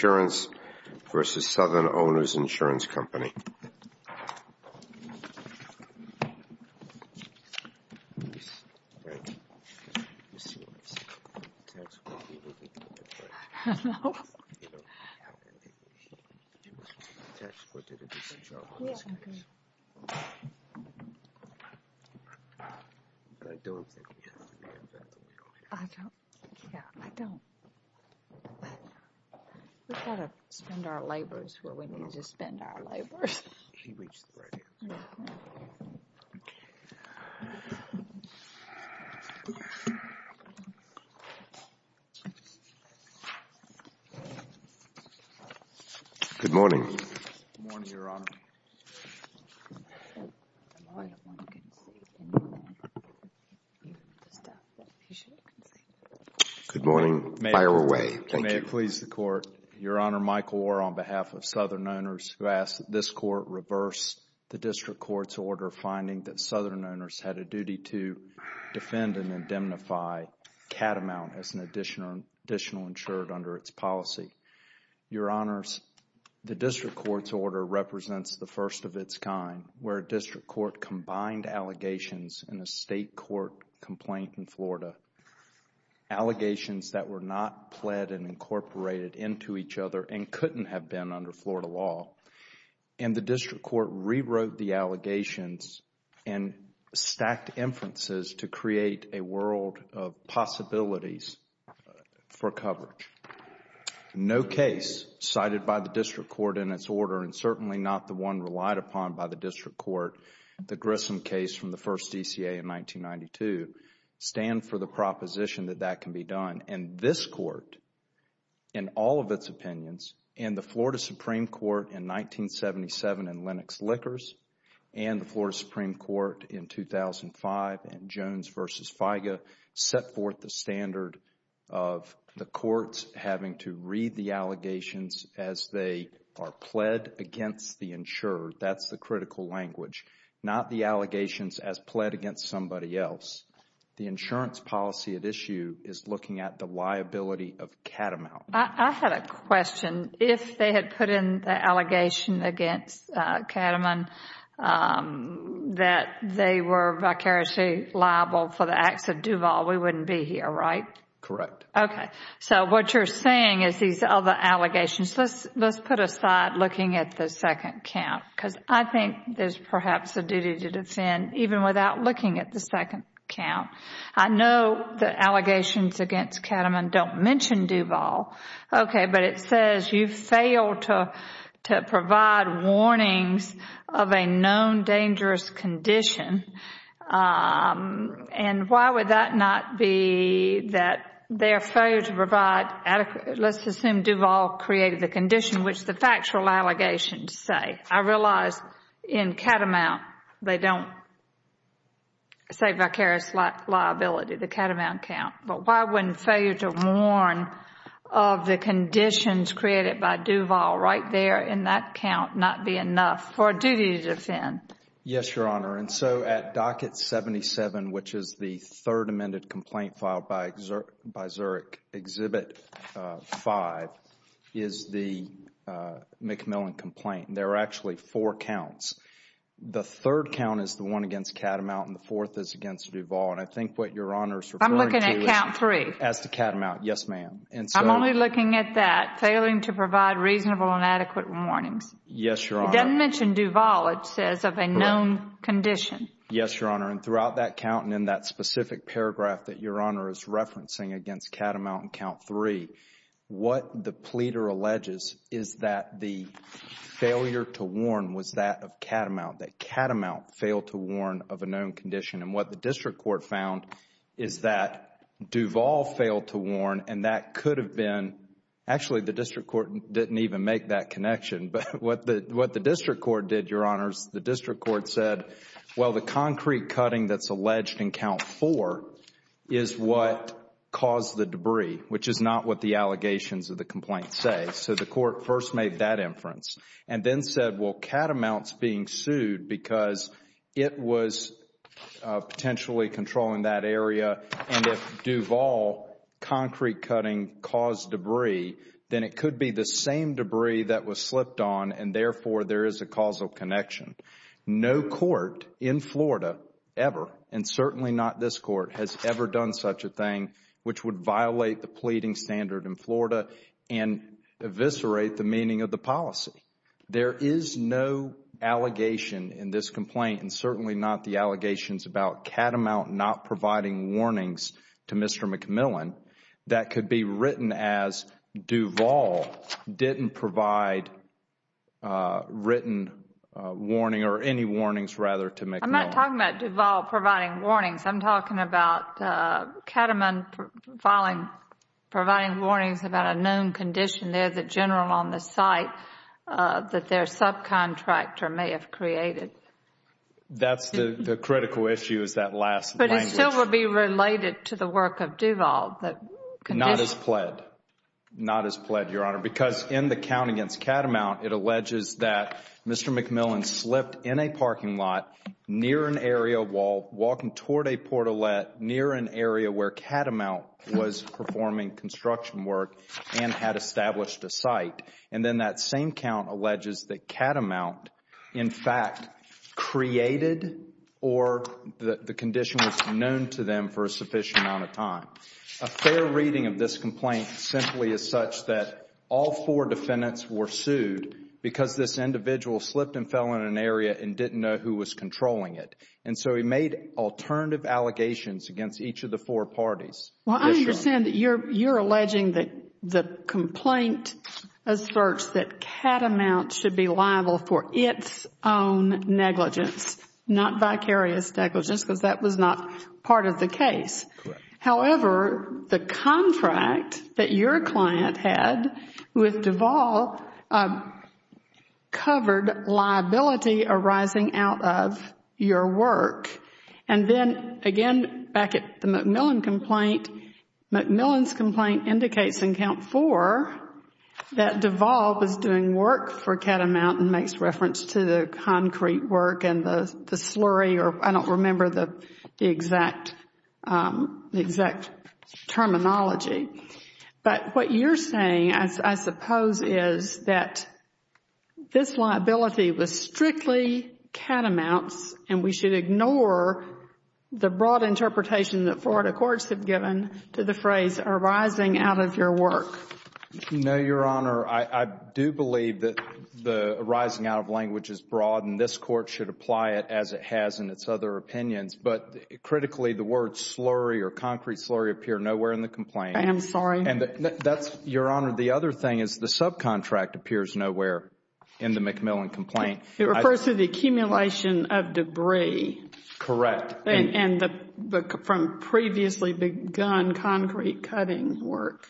v. Southern-Owners Insurance Company. Good morning. Good morning, Your Honor. May it please the Court, Your Honor, Michael Orr on behalf of Southern-Owners, who asks that this Court reverse the district court's order finding that Southern-Owners had a duty to defend and indemnify catamount as an additional insured under its policy. Your Honor, the district court's order represents the first of its kind where a district court combined allegations in a state court complaint in Florida, allegations that were not pled and incorporated into each other and couldn't have been under Florida law. And the district court rewrote the allegations and stacked inferences to create a world of coverage. No case cited by the district court in its order and certainly not the one relied upon by the district court, the Grissom case from the first DCA in 1992, stand for the proposition that that can be done. And this Court, in all of its opinions, and the Florida Supreme Court in 1977 in Lennox Lickers and the Florida Supreme Court in 2005 in Jones v. FIGA, set forth the standard of the courts having to read the allegations as they are pled against the insurer. That's the critical language, not the allegations as pled against somebody else. The insurance policy at issue is looking at the liability of catamount. I had a question. If they had put in the allegation against Catamount that they were vicariously liable for the acts of Duval, we wouldn't be here, right? Correct. Okay. So what you're saying is these other allegations, let's put aside looking at the second count because I think there's perhaps a duty to defend even without looking at the second count. I know the allegations against Catamount don't mention Duval, okay, but it says you failed to provide warnings of a known dangerous condition. And why would that not be that their failure to provide adequate, let's assume Duval created the condition, which the factual allegations say. I realize in Catamount they don't say vicarious liability, the Catamount count, but why wouldn't failure to warn of the conditions created by Duval right there in that count not be enough for a duty to defend? Yes, Your Honor. And so at Docket 77, which is the third amended complaint filed by Zurich Exhibit 5, is the McMillan complaint. There are actually four counts. The third count is the one against Catamount and the fourth is against Duval. And I think what Your Honor is referring to is... I'm looking at count three. As to Catamount, yes ma'am. And so... I'm only looking at that, failing to provide reasonable and adequate warnings. Yes, Your Honor. It doesn't mention Duval. It says of a known condition. Correct. Yes, Your Honor. And throughout that count and in that specific paragraph that Your Honor is referencing against Catamount in count three, what the pleader alleges is that the failure to warn was that of Catamount, that Catamount failed to warn of a known condition. And what the district court found is that Duval failed to warn and that could have been... actually the district court didn't even make that connection. But what the district court did, Your Honors, the district court said, well, the concrete cutting that's alleged in count four is what caused the debris, which is not what the allegations of the complaint say. So the court first made that inference and then said, well, Catamount's being sued because it was potentially controlling that area and if Duval concrete cutting caused debris, then it could be the same debris that was slipped on and therefore there is a causal connection. No court in Florida ever, and certainly not this court, has ever done such a thing which would violate the pleading standard in Florida and eviscerate the meaning of the policy. There is no allegation in this complaint and certainly not the allegations about Catamount not providing warnings to Mr. McMillan that could be written as Duval didn't provide written warning or any warnings rather to McMillan. I'm not talking about Duval providing warnings. I'm talking about Catamount filing, providing warnings about a known condition. There is a general on the site that their subcontractor may have created. That's the critical issue is that last language. But it still would be related to the work of Duval. Not as pled. Not as pled, Your Honor, because in the count against Catamount, it alleges that Mr. McMillan slipped in a parking lot near an area wall, walking toward a portalette near an area where Catamount was performing construction work and had established a site. And then that same count alleges that Catamount, in fact, created or the condition was known to them for a sufficient amount of time. A fair reading of this complaint simply is such that all four defendants were sued because this individual slipped and fell in an area and didn't know who was controlling it. And so he made alternative allegations against each of the four parties. Well, I understand that you're alleging that the complaint asserts that Catamount should be liable for its own negligence, not vicarious negligence, because that was not part of the case. Correct. However, the contract that your client had with Duval covered liability arising out of your work. And then, again, back at the McMillan complaint, McMillan's complaint indicates in count four that Duval was doing work for Catamount and makes reference to the concrete work and the slurry or I don't remember the exact terminology. But what you're saying, I suppose, is that this liability was strictly Catamount's and we should ignore the broad interpretation that Florida courts have given to the phrase arising out of your work. No, Your Honor. I do believe that the arising out of language is broad and this court should apply it as it has in its other opinions. But critically, the word slurry or concrete slurry appear nowhere in the complaint. I am sorry. And that's, Your Honor, the other thing is the subcontract appears nowhere in the McMillan complaint. It refers to the accumulation of debris. Correct. And from previously begun concrete cutting work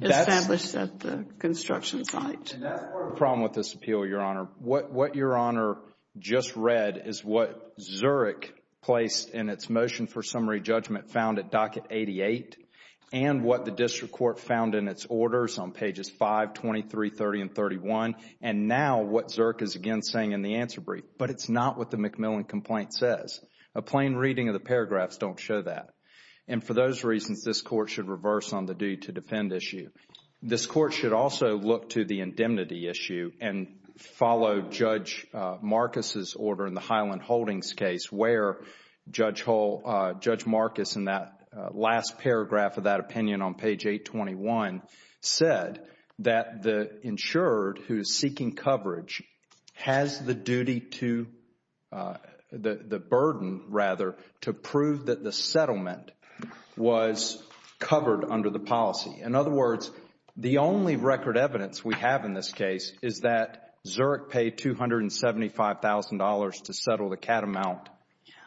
established at the construction site. And that's part of the problem with this appeal, Your Honor. What Your Honor just read is what Zurich placed in its motion for summary judgment found at docket 88 and what the district court found in its orders on pages 5, 23, 30 and 31. And now what Zurich is again saying in the answer brief. But it's not what the McMillan complaint says. A plain reading of the paragraphs don't show that. And for those reasons, this court should reverse on the due to defend issue. This court should also look to the indemnity issue and follow Judge Marcus's order in the Highland Holdings case where Judge Marcus in that last paragraph of that opinion on seeking coverage has the duty to, the burden rather, to prove that the settlement was covered under the policy. In other words, the only record evidence we have in this case is that Zurich paid $275,000 to settle the catamount.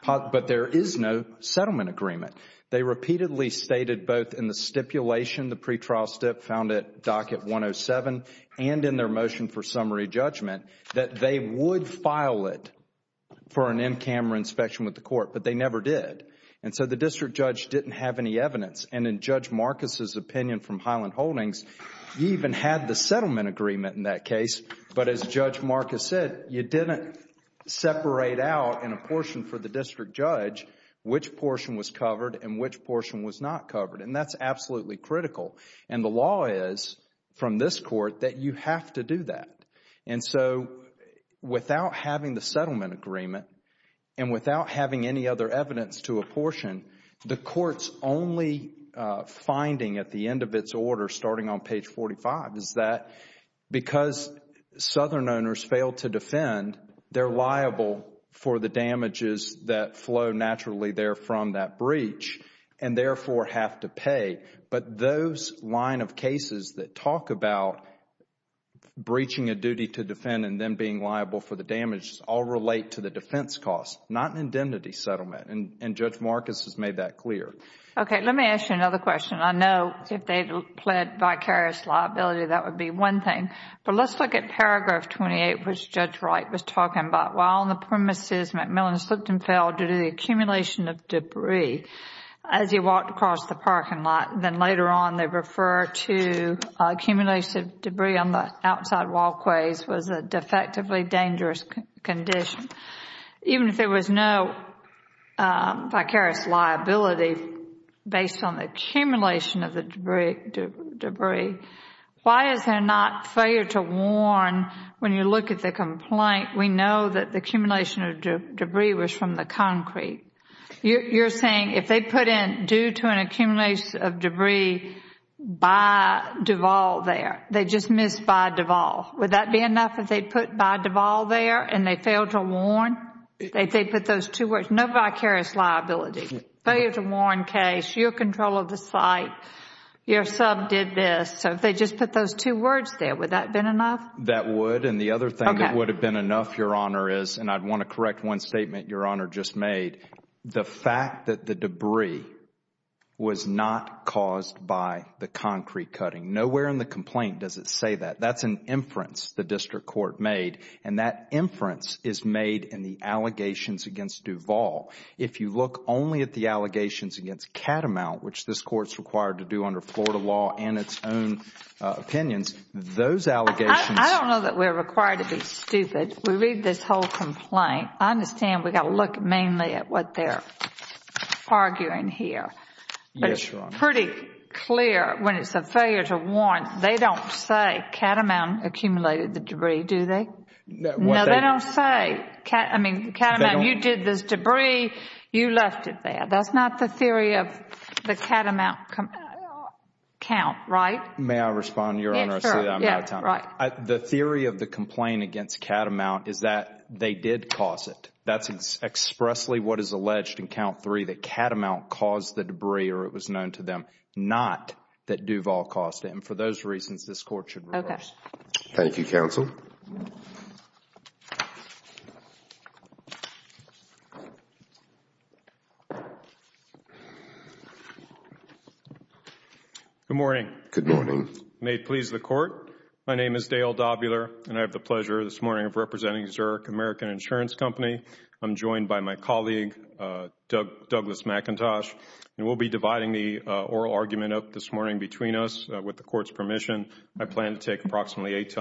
But there is no settlement agreement. They repeatedly stated both in the stipulation, the pretrial stip found at docket 107 and in their motion for summary judgment that they would file it for an in-camera inspection with the court. But they never did. And so the district judge didn't have any evidence. And in Judge Marcus's opinion from Highland Holdings, he even had the settlement agreement in that case. But as Judge Marcus said, you didn't separate out in a portion for the district judge which portion was covered and which portion was not covered. And that's absolutely critical. And the law is from this court that you have to do that. And so without having the settlement agreement and without having any other evidence to apportion, the court's only finding at the end of its order starting on page 45 is that because southern owners fail to defend, they're liable for the damages that flow naturally there from that breach and therefore have to pay. But those line of cases that talk about breaching a duty to defend and then being liable for the damages all relate to the defense cost, not an indemnity settlement. And Judge Marcus has made that clear. Okay. Let me ask you another question. I know if they pled vicarious liability, that would be one thing. But let's look at paragraph 28 which Judge Wright was talking about. While on the premises, McMillan slipped and fell due to the accumulation of debris, as he walked across the parking lot, then later on they refer to accumulation of debris on the outside walkways was a defectively dangerous condition. Even if there was no vicarious liability based on the accumulation of the debris, why is there not failure to warn when you look at the complaint, we know that the accumulation of debris was from the concrete. You're saying if they put in due to an accumulation of debris by Duvall there, they just missed by Duvall. Would that be enough if they put by Duvall there and they failed to warn? If they put those two words, no vicarious liability, failure to warn case, your control of the site, your sub did this. So if they just put those two words there, would that have been enough? That would. And the other thing that would have been enough, Your Honor, is, and I want to correct one the fact that the debris was not caused by the concrete cutting. Nowhere in the complaint does it say that. That's an inference the district court made and that inference is made in the allegations against Duvall. If you look only at the allegations against Catamount, which this court is required to do under Florida law and its own opinions, those allegations... I don't know that we're required to be stupid. We read this whole complaint. I understand we've got to look mainly at what they're arguing here. Yes, Your Honor. But it's pretty clear when it's a failure to warn, they don't say Catamount accumulated the debris, do they? No, they don't say. I mean, Catamount, you did this debris. You left it there. That's not the theory of the Catamount count, right? May I respond, Your Honor? I see that I'm out of time. Yes, sure. Yes, right. The theory of the complaint against Catamount is that they did cause it. That's expressly what is alleged in count three, that Catamount caused the debris or it was known to them, not that Duvall caused it. For those reasons, this court should reverse. Okay. Thank you, counsel. Good morning. Good morning. May it please the court. My name is Dale Dobular, and I have the pleasure this morning of representing Zurich American Insurance Company. I'm joined by my colleague, Douglas McIntosh, and we'll be dividing the oral argument up this morning between us with the court's permission. I plan to take approximately eight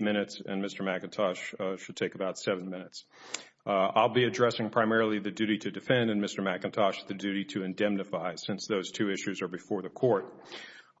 minutes, and Mr. McIntosh should take about seven minutes. I'll be addressing primarily the duty to defend, and Mr. McIntosh, the duty to indemnify since those two issues are before the court.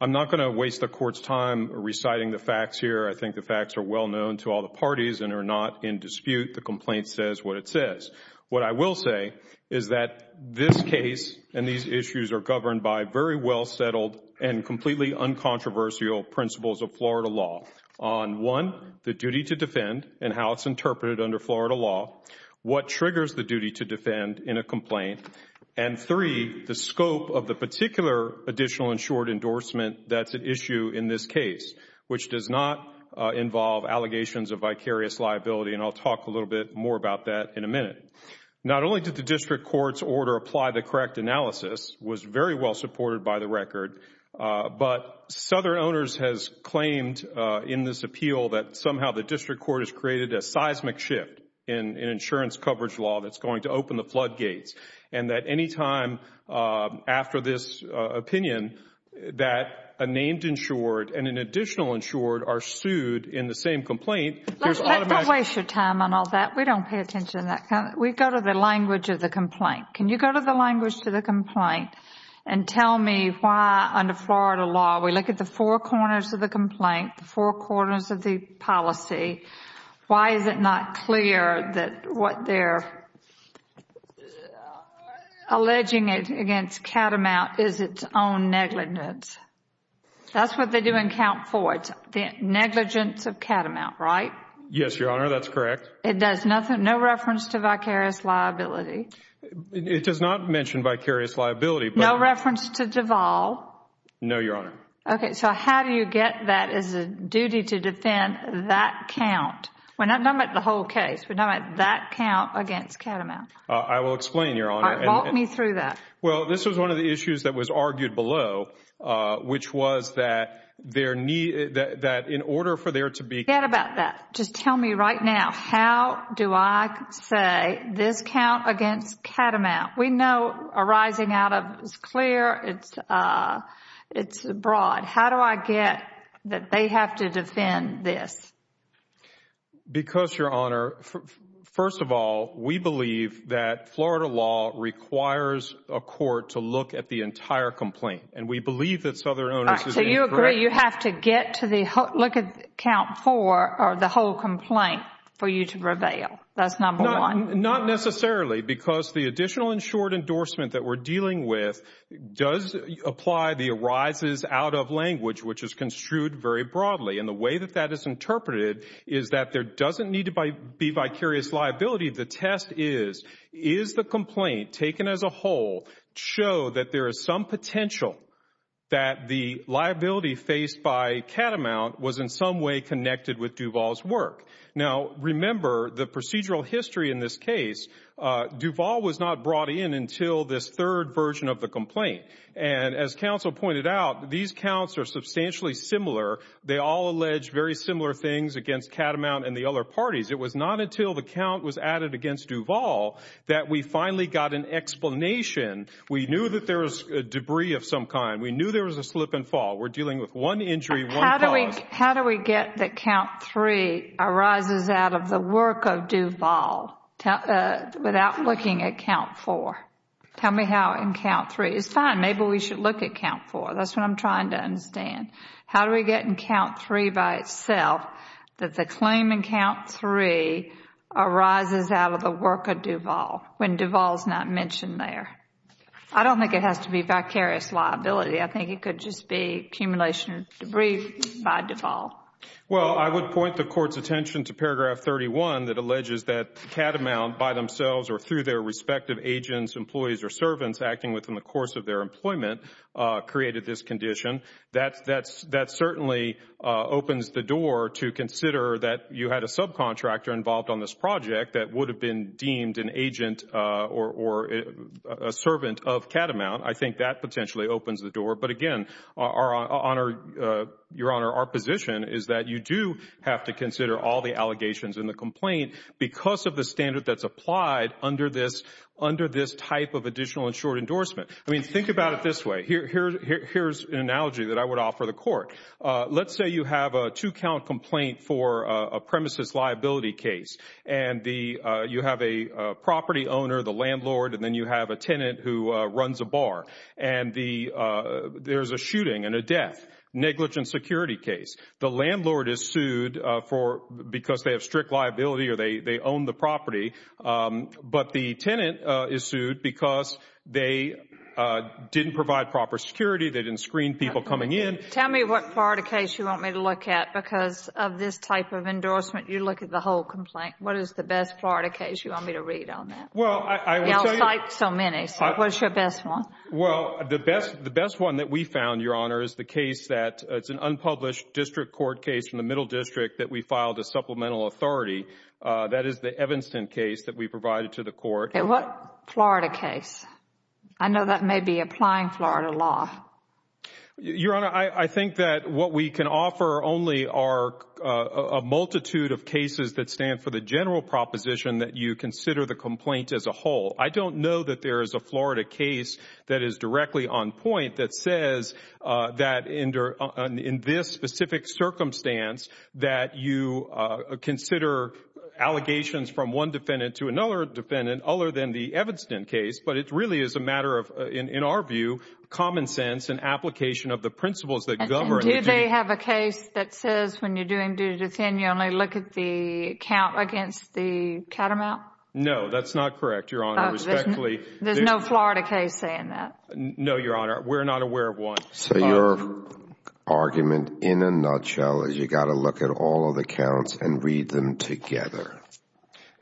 I'm not going to waste the court's time reciting the facts here. I think the facts are well known to all the parties and are not in dispute. The complaint says what it says. What I will say is that this case and these issues are governed by very well settled and completely uncontroversial principles of Florida law on, one, the duty to defend and how it's interpreted under Florida law, what triggers the duty to defend in a complaint, and, three, the scope of the particular additional insured endorsement that's at issue in this case, which does not involve allegations of vicarious liability, and I'll talk a little bit more about that in a minute. Not only did the district court's order apply the correct analysis, was very well supported by the record, but Southern Owners has claimed in this appeal that somehow the district court has created a seismic shift in insurance coverage law that's going to open the floodgates and that any time after this opinion that a named insured and an additional insured are sued in the same complaint, there's automatic... Let's not waste your time on all that. We don't pay attention to that. We go to the language of the complaint. Can you go to the language of the complaint and tell me why under Florida law we look at the four corners of the complaint, the four corners of the policy, why is it not clear that what they're alleging against Catamount is its own negligence? That's what they do in count four, negligence of Catamount, right? Yes, Your Honor. That's correct. It does nothing, no reference to vicarious liability? It does not mention vicarious liability, but... No reference to Duvall? No, Your Honor. Okay. So how do you get that as a duty to defend that count? We're not talking about the whole case, we're talking about that count against Catamount. I will explain, Your Honor. All right, walk me through that. Well, this was one of the issues that was argued below, which was that in order for there to be... Forget about that. Just tell me right now, how do I say this count against Catamount? We know arising out of it's clear, it's broad. How do I get that they have to defend this? Because Your Honor, first of all, we believe that Florida law requires a court to look at the entire complaint. And we believe that Southern Owners is incorrect. All right, so you agree you have to look at count four or the whole complaint for you to prevail. That's number one. Not necessarily, because the additional insured endorsement that we're dealing with does apply the arises out of language, which is construed very broadly. And the way that that is interpreted is that there doesn't need to be vicarious liability. The test is, is the complaint taken as a whole show that there is some potential that the liability faced by Catamount was in some way connected with Duvall's work? Now remember, the procedural history in this case, Duvall was not brought in until this third version of the complaint. And as counsel pointed out, these counts are substantially similar. They all allege very similar things against Catamount and the other parties. It was not until the count was added against Duvall that we finally got an explanation. We knew that there was debris of some kind. We knew there was a slip and fall. We're dealing with one injury, one cause. How do we get that count three arises out of the work of Duvall without looking at count four? Tell me how in count three. It's fine. Maybe we should look at count four. That's what I'm trying to understand. How do we get in count three by itself that the claim in count three arises out of the work of Duvall when Duvall is not mentioned there? I don't think it has to be vicarious liability. I think it could just be accumulation of debris by Duvall. Well, I would point the Court's attention to paragraph 31 that alleges that Catamount by themselves or through their respective agents, employees or servants acting within the course of their employment created this condition. That certainly opens the door to consider that you had a subcontractor involved on this project that would have been deemed an agent or a servant of Catamount. I think that potentially opens the door. But again, Your Honor, our position is that you do have to consider all the allegations and the complaint because of the standard that's applied under this type of additional insured endorsement. I mean, think about it this way. Here's an analogy that I would offer the Court. Let's say you have a two-count complaint for a premises liability case. You have a property owner, the landlord, and then you have a tenant who runs a bar. There's a shooting and a death, negligent security case. The landlord is sued because they have strict liability or they own the property. But the tenant is sued because they didn't provide proper security, they didn't screen people coming in. Tell me what part of the case you want me to look at because of this type of endorsement you look at the whole complaint. What is the best part of the case you want me to read on that? Well, I will tell you. We all cite so many. So, what's your best one? Well, the best one that we found, Your Honor, is the case that's an unpublished district court case in the Middle District that we filed a supplemental authority. That is the Evanston case that we provided to the Court. And what Florida case? I know that may be applying Florida law. Your Honor, I think that what we can offer only are a multitude of cases that stand for the general proposition that you consider the complaint as a whole. I don't know that there is a Florida case that is directly on point that says that in this specific circumstance that you consider allegations from one defendant to another defendant other than the Evanston case. But it really is a matter of, in our view, common sense and application of the principles that govern the case. And do they have a case that says when you're doing duty to defend, you only look at the count against the catamount? No, that's not correct, Your Honor. There's no Florida case saying that? No, Your Honor. We're not aware of one. So your argument, in a nutshell, is you've got to look at all of the counts and read them together?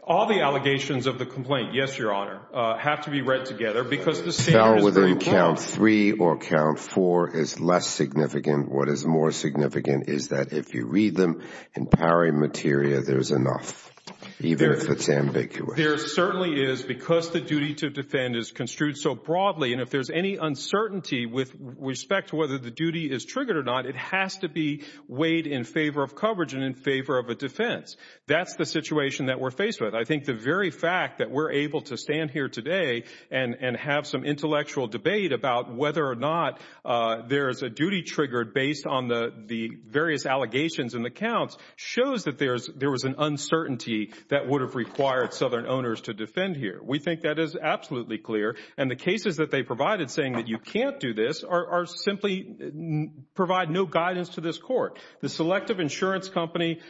All the allegations of the complaint, yes, Your Honor, have to be read together because the standards... Fell within count three or count four is less significant. What is more significant is that if you read them in pari materia, there's enough, even if it's ambiguous. There certainly is, because the duty to defend is construed so broadly, and if there's any uncertainty with respect to whether the duty is triggered or not, it has to be weighed in favor of coverage and in favor of a defense. That's the situation that we're faced with. I think the very fact that we're able to stand here today and have some intellectual debate about whether or not there is a duty triggered based on the various allegations in the counts shows that there was an uncertainty that would have required Southern owners to defend here. We think that is absolutely clear, and the cases that they provided saying that you can't do this simply provide no guidance to this Court. The Selective Insurance Company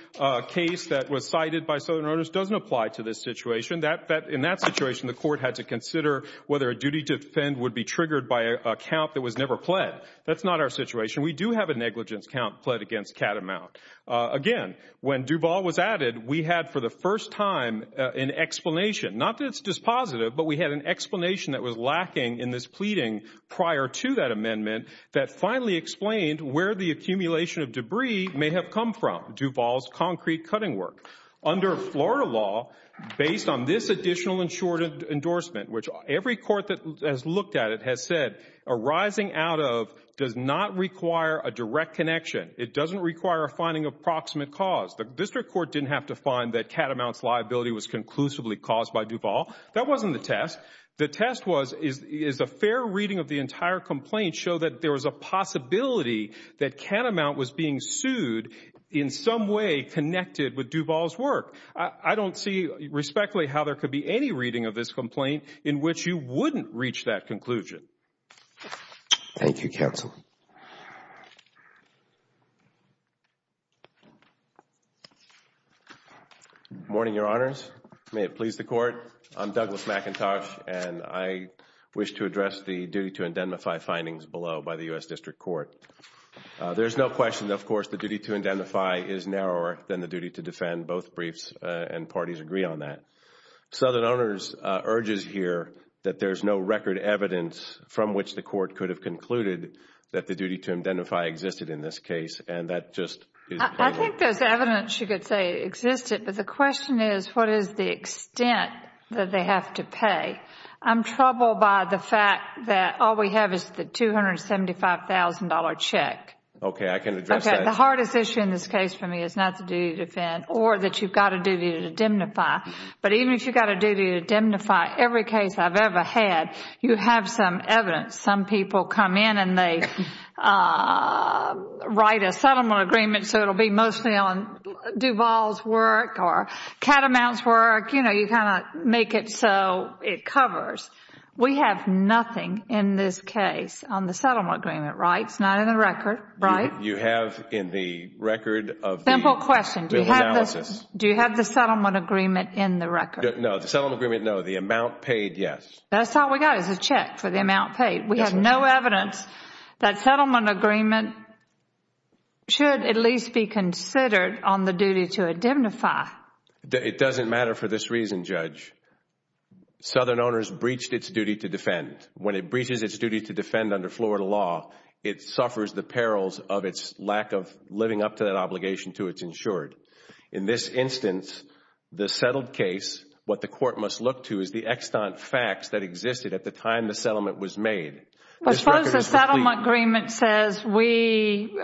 case that was cited by Southern owners doesn't apply to this situation. In that situation, the Court had to consider whether a duty to defend would be triggered by a count that was never pled. That's not our situation. We do have a negligence count pled against Catamount. Again, when Duval was added, we had for the first time an explanation, not that it's dispositive, but we had an explanation that was lacking in this pleading prior to that amendment that finally explained where the accumulation of debris may have come from, Duval's concrete cutting work. Under Florida law, based on this additional endorsement, which every court that has looked at it has said arising out of does not require a direct connection. It doesn't require a finding of proximate cause. The District Court didn't have to find that Catamount's liability was conclusively caused by Duval. That wasn't the test. The test was, is a fair reading of the entire complaint show that there was a possibility that Catamount was being sued in some way connected with Duval's work? I don't see respectfully how there could be any reading of this complaint in which you wouldn't reach that conclusion. Thank you, Counsel. Good morning, Your Honors. May it please the Court, I'm Douglas McIntosh, and I wish to address the duty to indemnify findings below by the U.S. District Court. There's no question, of course, the duty to indemnify is narrower than the duty to defend. Both briefs and parties agree on that. Southern Honors urges here that there's no record evidence from which the Court could have concluded that the duty to indemnify existed in this case, and that just... I think there's evidence you could say existed, but the question is what is the extent that they have to pay? I'm troubled by the fact that all we have is the $275,000 check. Okay, I can address that. The hardest issue in this case for me is not the duty to defend or that you've got a duty to indemnify, but even if you've got a duty to indemnify every case I've ever had, you have some evidence. Some people come in and they write a settlement agreement so it will be mostly on Duvall's work or Catamount's work, you know, you kind of make it so it covers. We have nothing in this case on the settlement agreement rights, not in the record, right? You have in the record of the... Simple question.... bill analysis. Do you have the settlement agreement in the record? No, the settlement agreement, no. The amount paid, yes. That's all we've got is a check for the amount paid. We have no evidence that settlement agreement should at least be considered on the duty to indemnify. It doesn't matter for this reason, Judge. Southern owners breached its duty to defend. When it breaches its duty to defend under Florida law, it suffers the perils of its lack of living up to that obligation to its insured. In this instance, the settled case, what the court must look to is the extant facts that existed at the time the settlement was made. Suppose the settlement agreement says we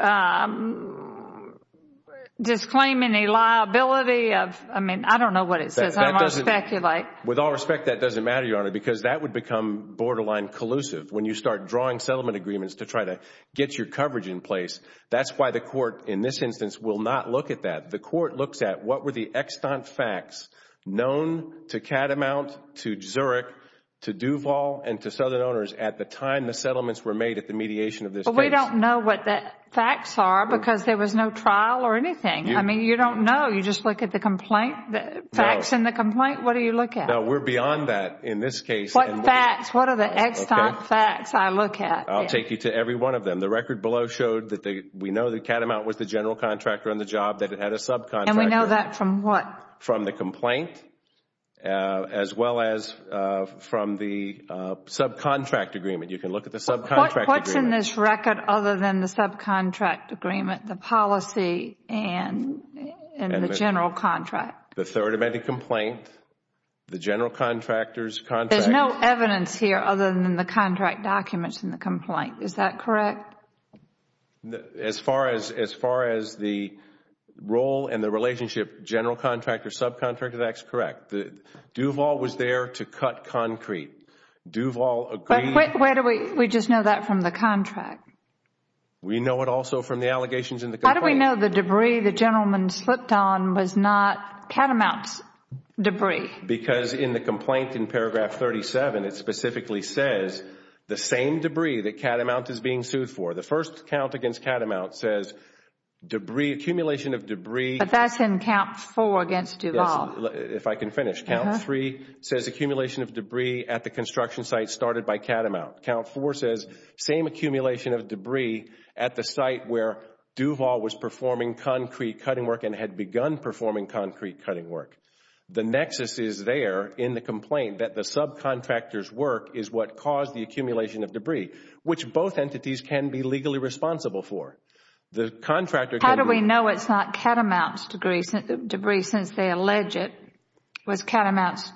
disclaim any liability of... I mean, I don't know what it says. I don't want to speculate. With all respect, that doesn't matter, Your Honor, because that would become borderline collusive when you start drawing settlement agreements to try to get your coverage in place. That's why the court in this instance will not look at that. The court looks at what were the extant facts known to Catamount, to Zurich, to Duvall and to Southern owners at the time the settlements were made at the mediation of this case. We don't know what the facts are because there was no trial or anything. I mean, you don't know. You just look at the facts in the complaint. What do you look at? No, we're beyond that in this case. What facts? What are the extant facts I look at? I'll take you to every one of them. The record below showed that we know that Catamount was the general contractor on the subcontract agreement. And we know that from what? From the complaint as well as from the subcontract agreement. You can look at the subcontract agreement. What's in this record other than the subcontract agreement, the policy and the general contract? The third amended complaint, the general contractor's contract. There's no evidence here other than the contract documents in the complaint. Is that correct? As far as the role and the relationship, general contractor, subcontractor, that's correct. Duval was there to cut concrete. Duval agreed. But where do we just know that from the contract? We know it also from the allegations in the complaint. How do we know the debris the gentleman slipped on was not Catamount's debris? Because in the complaint in paragraph 37, it specifically says the same debris that The first count against Catamount says debris, accumulation of debris. But that's in count four against Duval. If I can finish. Count three says accumulation of debris at the construction site started by Catamount. Count four says same accumulation of debris at the site where Duval was performing concrete cutting work and had begun performing concrete cutting work. The nexus is there in the complaint that the subcontractor's work is what caused the accumulation of debris, which both entities can be legally responsible for. The contractor How do we know it's not Catamount's debris since they allege it was Catamount's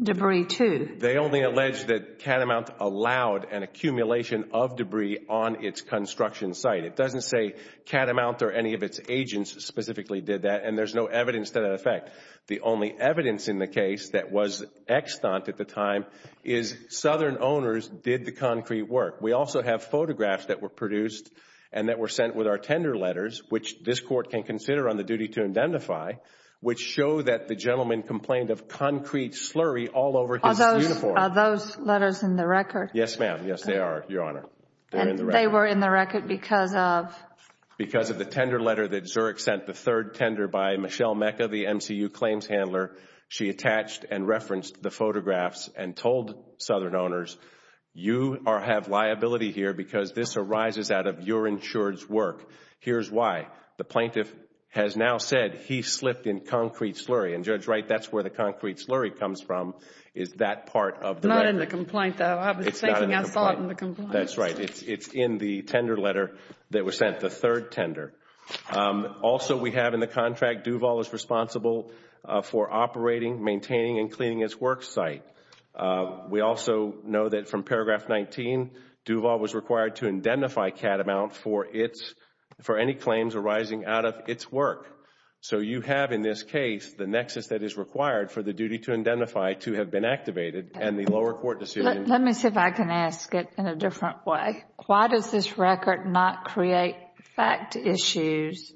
debris too? They only allege that Catamount allowed an accumulation of debris on its construction site. It doesn't say Catamount or any of its agents specifically did that and there's no evidence to that effect. The only evidence in the case that was extant at the time is Southern owners did the concrete work. We also have photographs that were produced and that were sent with our tender letters, which this Court can consider on the duty to identify, which show that the gentleman complained of concrete slurry all over his uniform. Are those letters in the record? Yes, ma'am. Yes, they are, Your Honor. They were in the record because of? Because of the tender letter that Zurek sent, the third tender by Michelle Mecca, the MCU claims handler. She attached and referenced the photographs and told Southern owners, you have liability here because this arises out of your insured's work. Here's why. The plaintiff has now said he slipped in concrete slurry and, Judge Wright, that's where the concrete slurry comes from, is that part of the record. Not in the complaint, though. I was thinking I saw it in the complaint. That's right. It's in the tender letter that was sent, the third tender. Also, we have in the contract, Duval is responsible for operating, maintaining and cleaning its work site. We also know that from paragraph 19, Duval was required to identify Catamount for any claims arising out of its work. You have in this case the nexus that is required for the duty to identify to have been activated and the lower court decision... Why does this record not create fact issues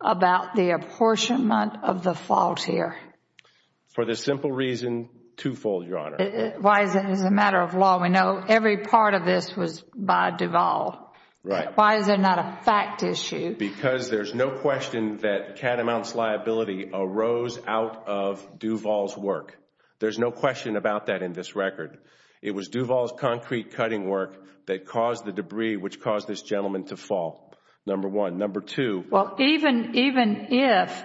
about the apportionment of the fault here? For the simple reason, twofold, Your Honor. Why is it a matter of law? We know every part of this was by Duval. Why is there not a fact issue? Because there's no question that Catamount's liability arose out of Duval's work. There's no question about that in this record. It was Duval's concrete cutting work that caused the debris which caused this gentleman to fall, number one. Number two... Well, even if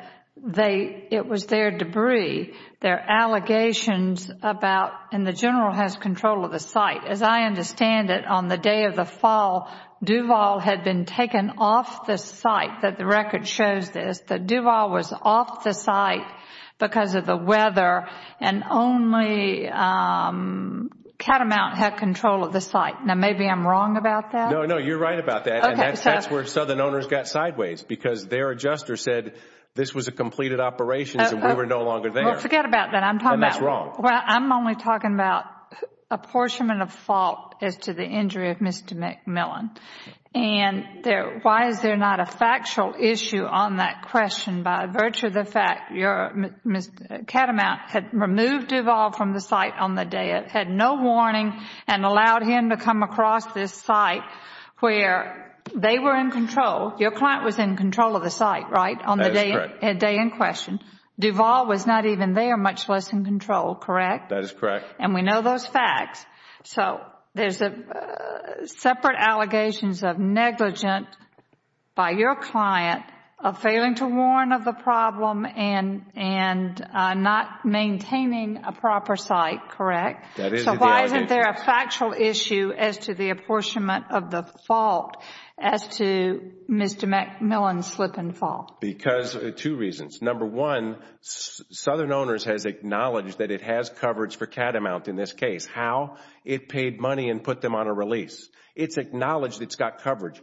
it was their debris, their allegations about... and the general has control of the site. As I understand it, on the day of the fall, Duval had been taken off the site, the record shows this. That Duval was off the site because of the weather and only Catamount had control of the site. Now, maybe I'm wrong about that. No, no. You're right about that. That's where Southern Owners got sideways because their adjuster said this was a completed operation and we were no longer there. Well, forget about that. I'm talking about... That's wrong. I'm only talking about apportionment of fault as to the injury of Mr. McMillan. And why is there not a factual issue on that question by virtue of the fact that Catamount had removed Duval from the site on the day, had no warning and allowed him to come across this site where they were in control, your client was in control of the site, right, on the day in question? That is correct. Duval was not even there, much less in control, correct? That is correct. And we know those facts. So there are separate allegations of negligence by your client of failing to warn of the problem and not maintaining a proper site, correct? That is the allegation. So why isn't there a factual issue as to the apportionment of the fault as to Mr. McMillan's slip and fall? Because of two reasons. Number one, Southern Owners has acknowledged that it has coverage for Catamount in this It paid money and put them on a release. It has acknowledged it has coverage.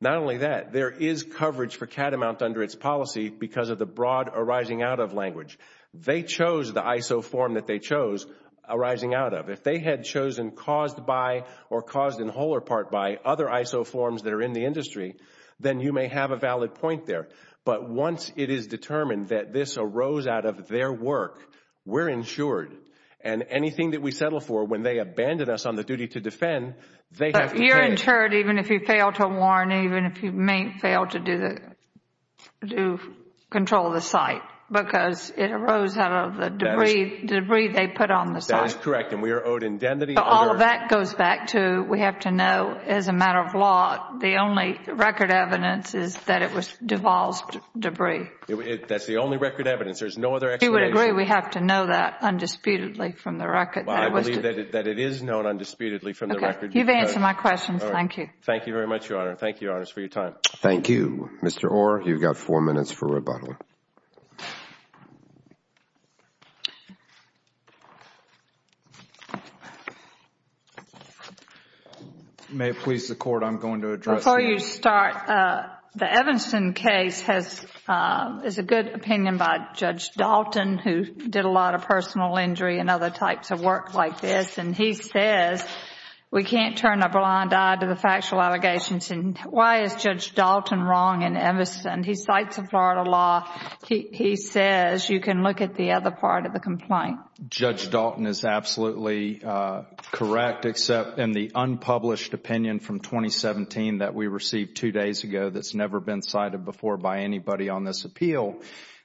Not only that, there is coverage for Catamount under its policy because of the broad arising out of language. They chose the ISO form that they chose, arising out of. If they had chosen caused by or caused in whole or part by other ISO forms that are in the industry, then you may have a valid point there. But once it is determined that this arose out of their work, we are insured. And anything that we settle for, when they abandon us on the duty to defend, they have to pay. You are insured even if you fail to warn, even if you fail to control the site because it arose out of the debris they put on the site. That is correct and we are owed indemnity. All of that goes back to we have to know as a matter of law, the only record evidence is that it was devolved debris. That is the only record evidence. There is no other explanation. But you would agree we have to know that undisputedly from the record. I believe that it is known undisputedly from the record. You have answered my question. Thank you. Thank you very much, Your Honor. Thank you, Your Honor, for your time. Thank you. Mr. Orr, you have four minutes for rebuttal. May it please the Court, I am going to address now. The Evanson case is a good opinion by Judge Dalton who did a lot of personal injury and other types of work like this. He says we can't turn a blind eye to the factual allegations. Why is Judge Dalton wrong in Evanson? He cites a Florida law. He says you can look at the other part of the complaint. Judge Dalton is absolutely correct except in the unpublished opinion from 2017 that we received two days ago that has never been cited before by anybody on this appeal.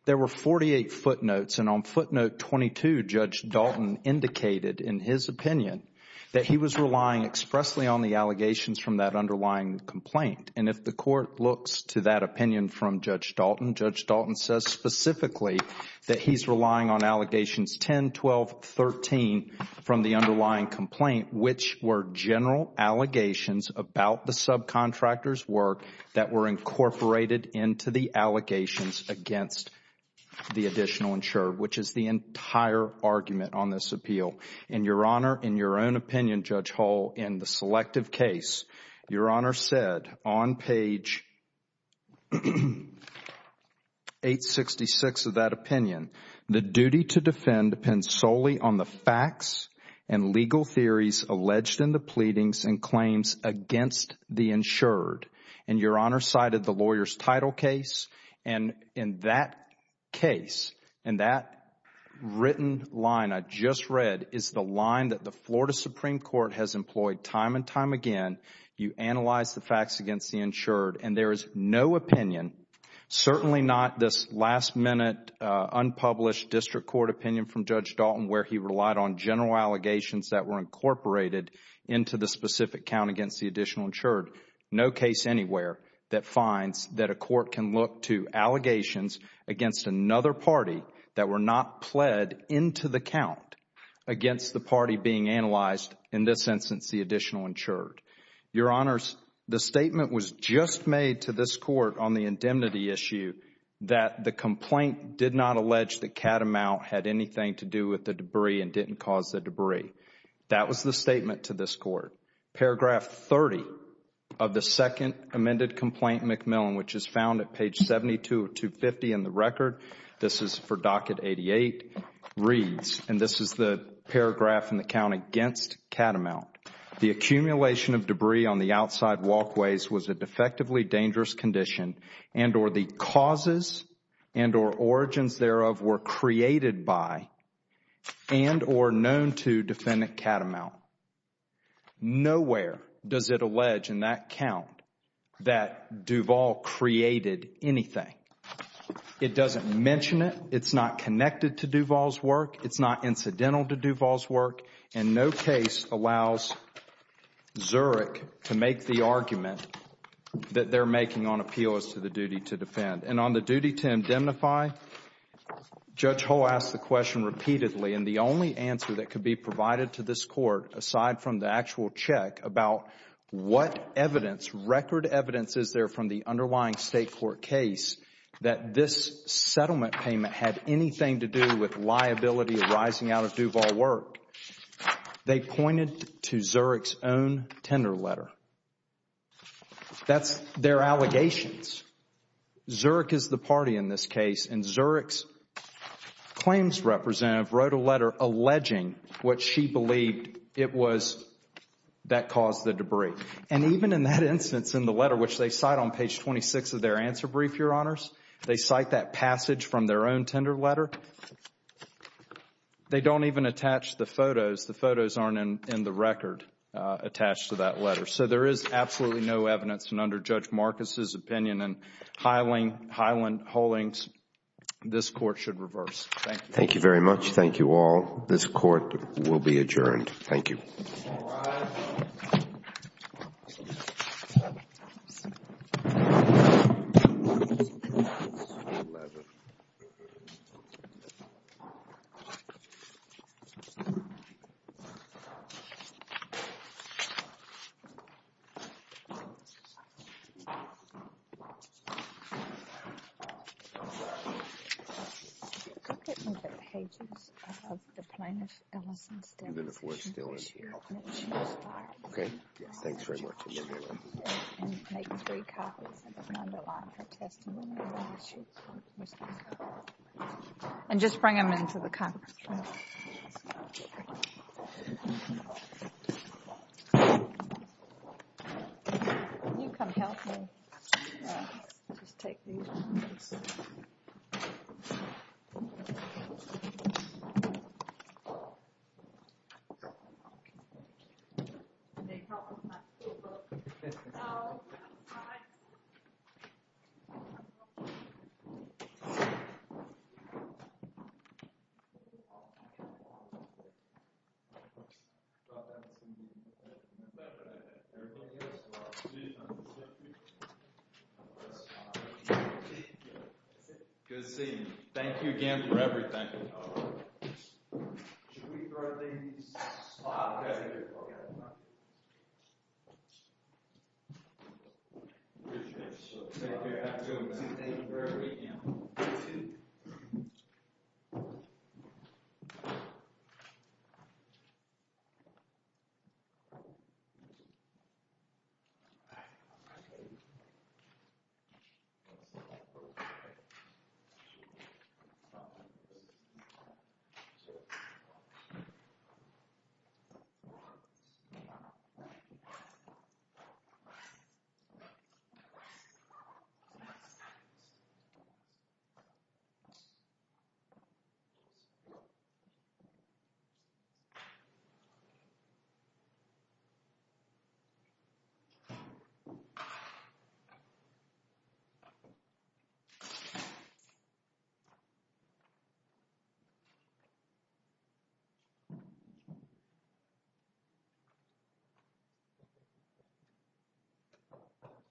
There were 48 footnotes. On footnote 22, Judge Dalton indicated in his opinion that he was relying expressly on the allegations from that underlying complaint. If the Court looks to that opinion from Judge Dalton, Judge Dalton says specifically that he is relying on allegations 10, 12, 13 from the underlying complaint which were general allegations about the subcontractor's work that were incorporated into the allegations against the additional insurer which is the entire argument on this appeal. In your honor, in your own opinion, Judge Hull, in the selective case, your honor said on page 866 of that opinion, the duty to defend depends solely on the facts and legal theories alleged in the pleadings and claims against the insured. Your honor cited the lawyer's title case and in that case, in that written line I just read is the line that the Florida Supreme Court has employed time and time again. You analyze the facts against the insured and there is no opinion, certainly not this last minute unpublished district court opinion from Judge Dalton where he relied on general allegations that were incorporated into the specific count against the additional insured. No case anywhere that finds that a court can look to allegations against another party that were not pled into the count against the party being analyzed in this instance the additional insured. Your honors, the statement was just made to this court on the indemnity issue that the complaint did not allege that Catamount had anything to do with the debris and didn't cause the debris. That was the statement to this court. Paragraph 30 of the second amended complaint, McMillan, which is found at page 72 of 250 in the record, this is for docket 88, reads, and this is the paragraph in the count against Catamount, the accumulation of debris on the outside walkways was a defectively dangerous condition and or the causes and or origins thereof were created by and or known to defendant Catamount. Nowhere does it allege in that count that Duvall created anything. It doesn't mention it. It's not connected to Duvall's work. It's not incidental to Duvall's work. And no case allows Zurich to make the argument that they're making on appeal as to the duty to defend. And on the duty to indemnify, Judge Hull asked the question repeatedly and the only answer that could be provided to this court, aside from the actual check, about what evidence, record evidence is there from the underlying State court case that this settlement payment had anything to do with liability arising out of Duvall's work, they pointed to Zurich's own tender letter. That's their allegations. Zurich is the party in this case and Zurich's claims representative wrote a letter alleging what she believed it was that caused the debris. And even in that instance in the letter, which they cite on page 26 of their answer brief, Your Honors, they cite that passage from their own tender letter. They don't even attach the photos. The photos aren't in the record attached to that letter. So there is absolutely no evidence and under Judge Marcus's opinion and Hyland Hulling's, this court should reverse. Thank you. Thank you very much. Thank you all. This court will be adjourned. Thank you. Okay. Thanks very much. And just bring them into the conference room. Can you come help me? Just take these. Can you help me with my school book? Good seeing you. Thank you again for everything. Should we throw these out? Okay. Thank you very much. Thank you for everything. Thank you.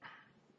Thank you.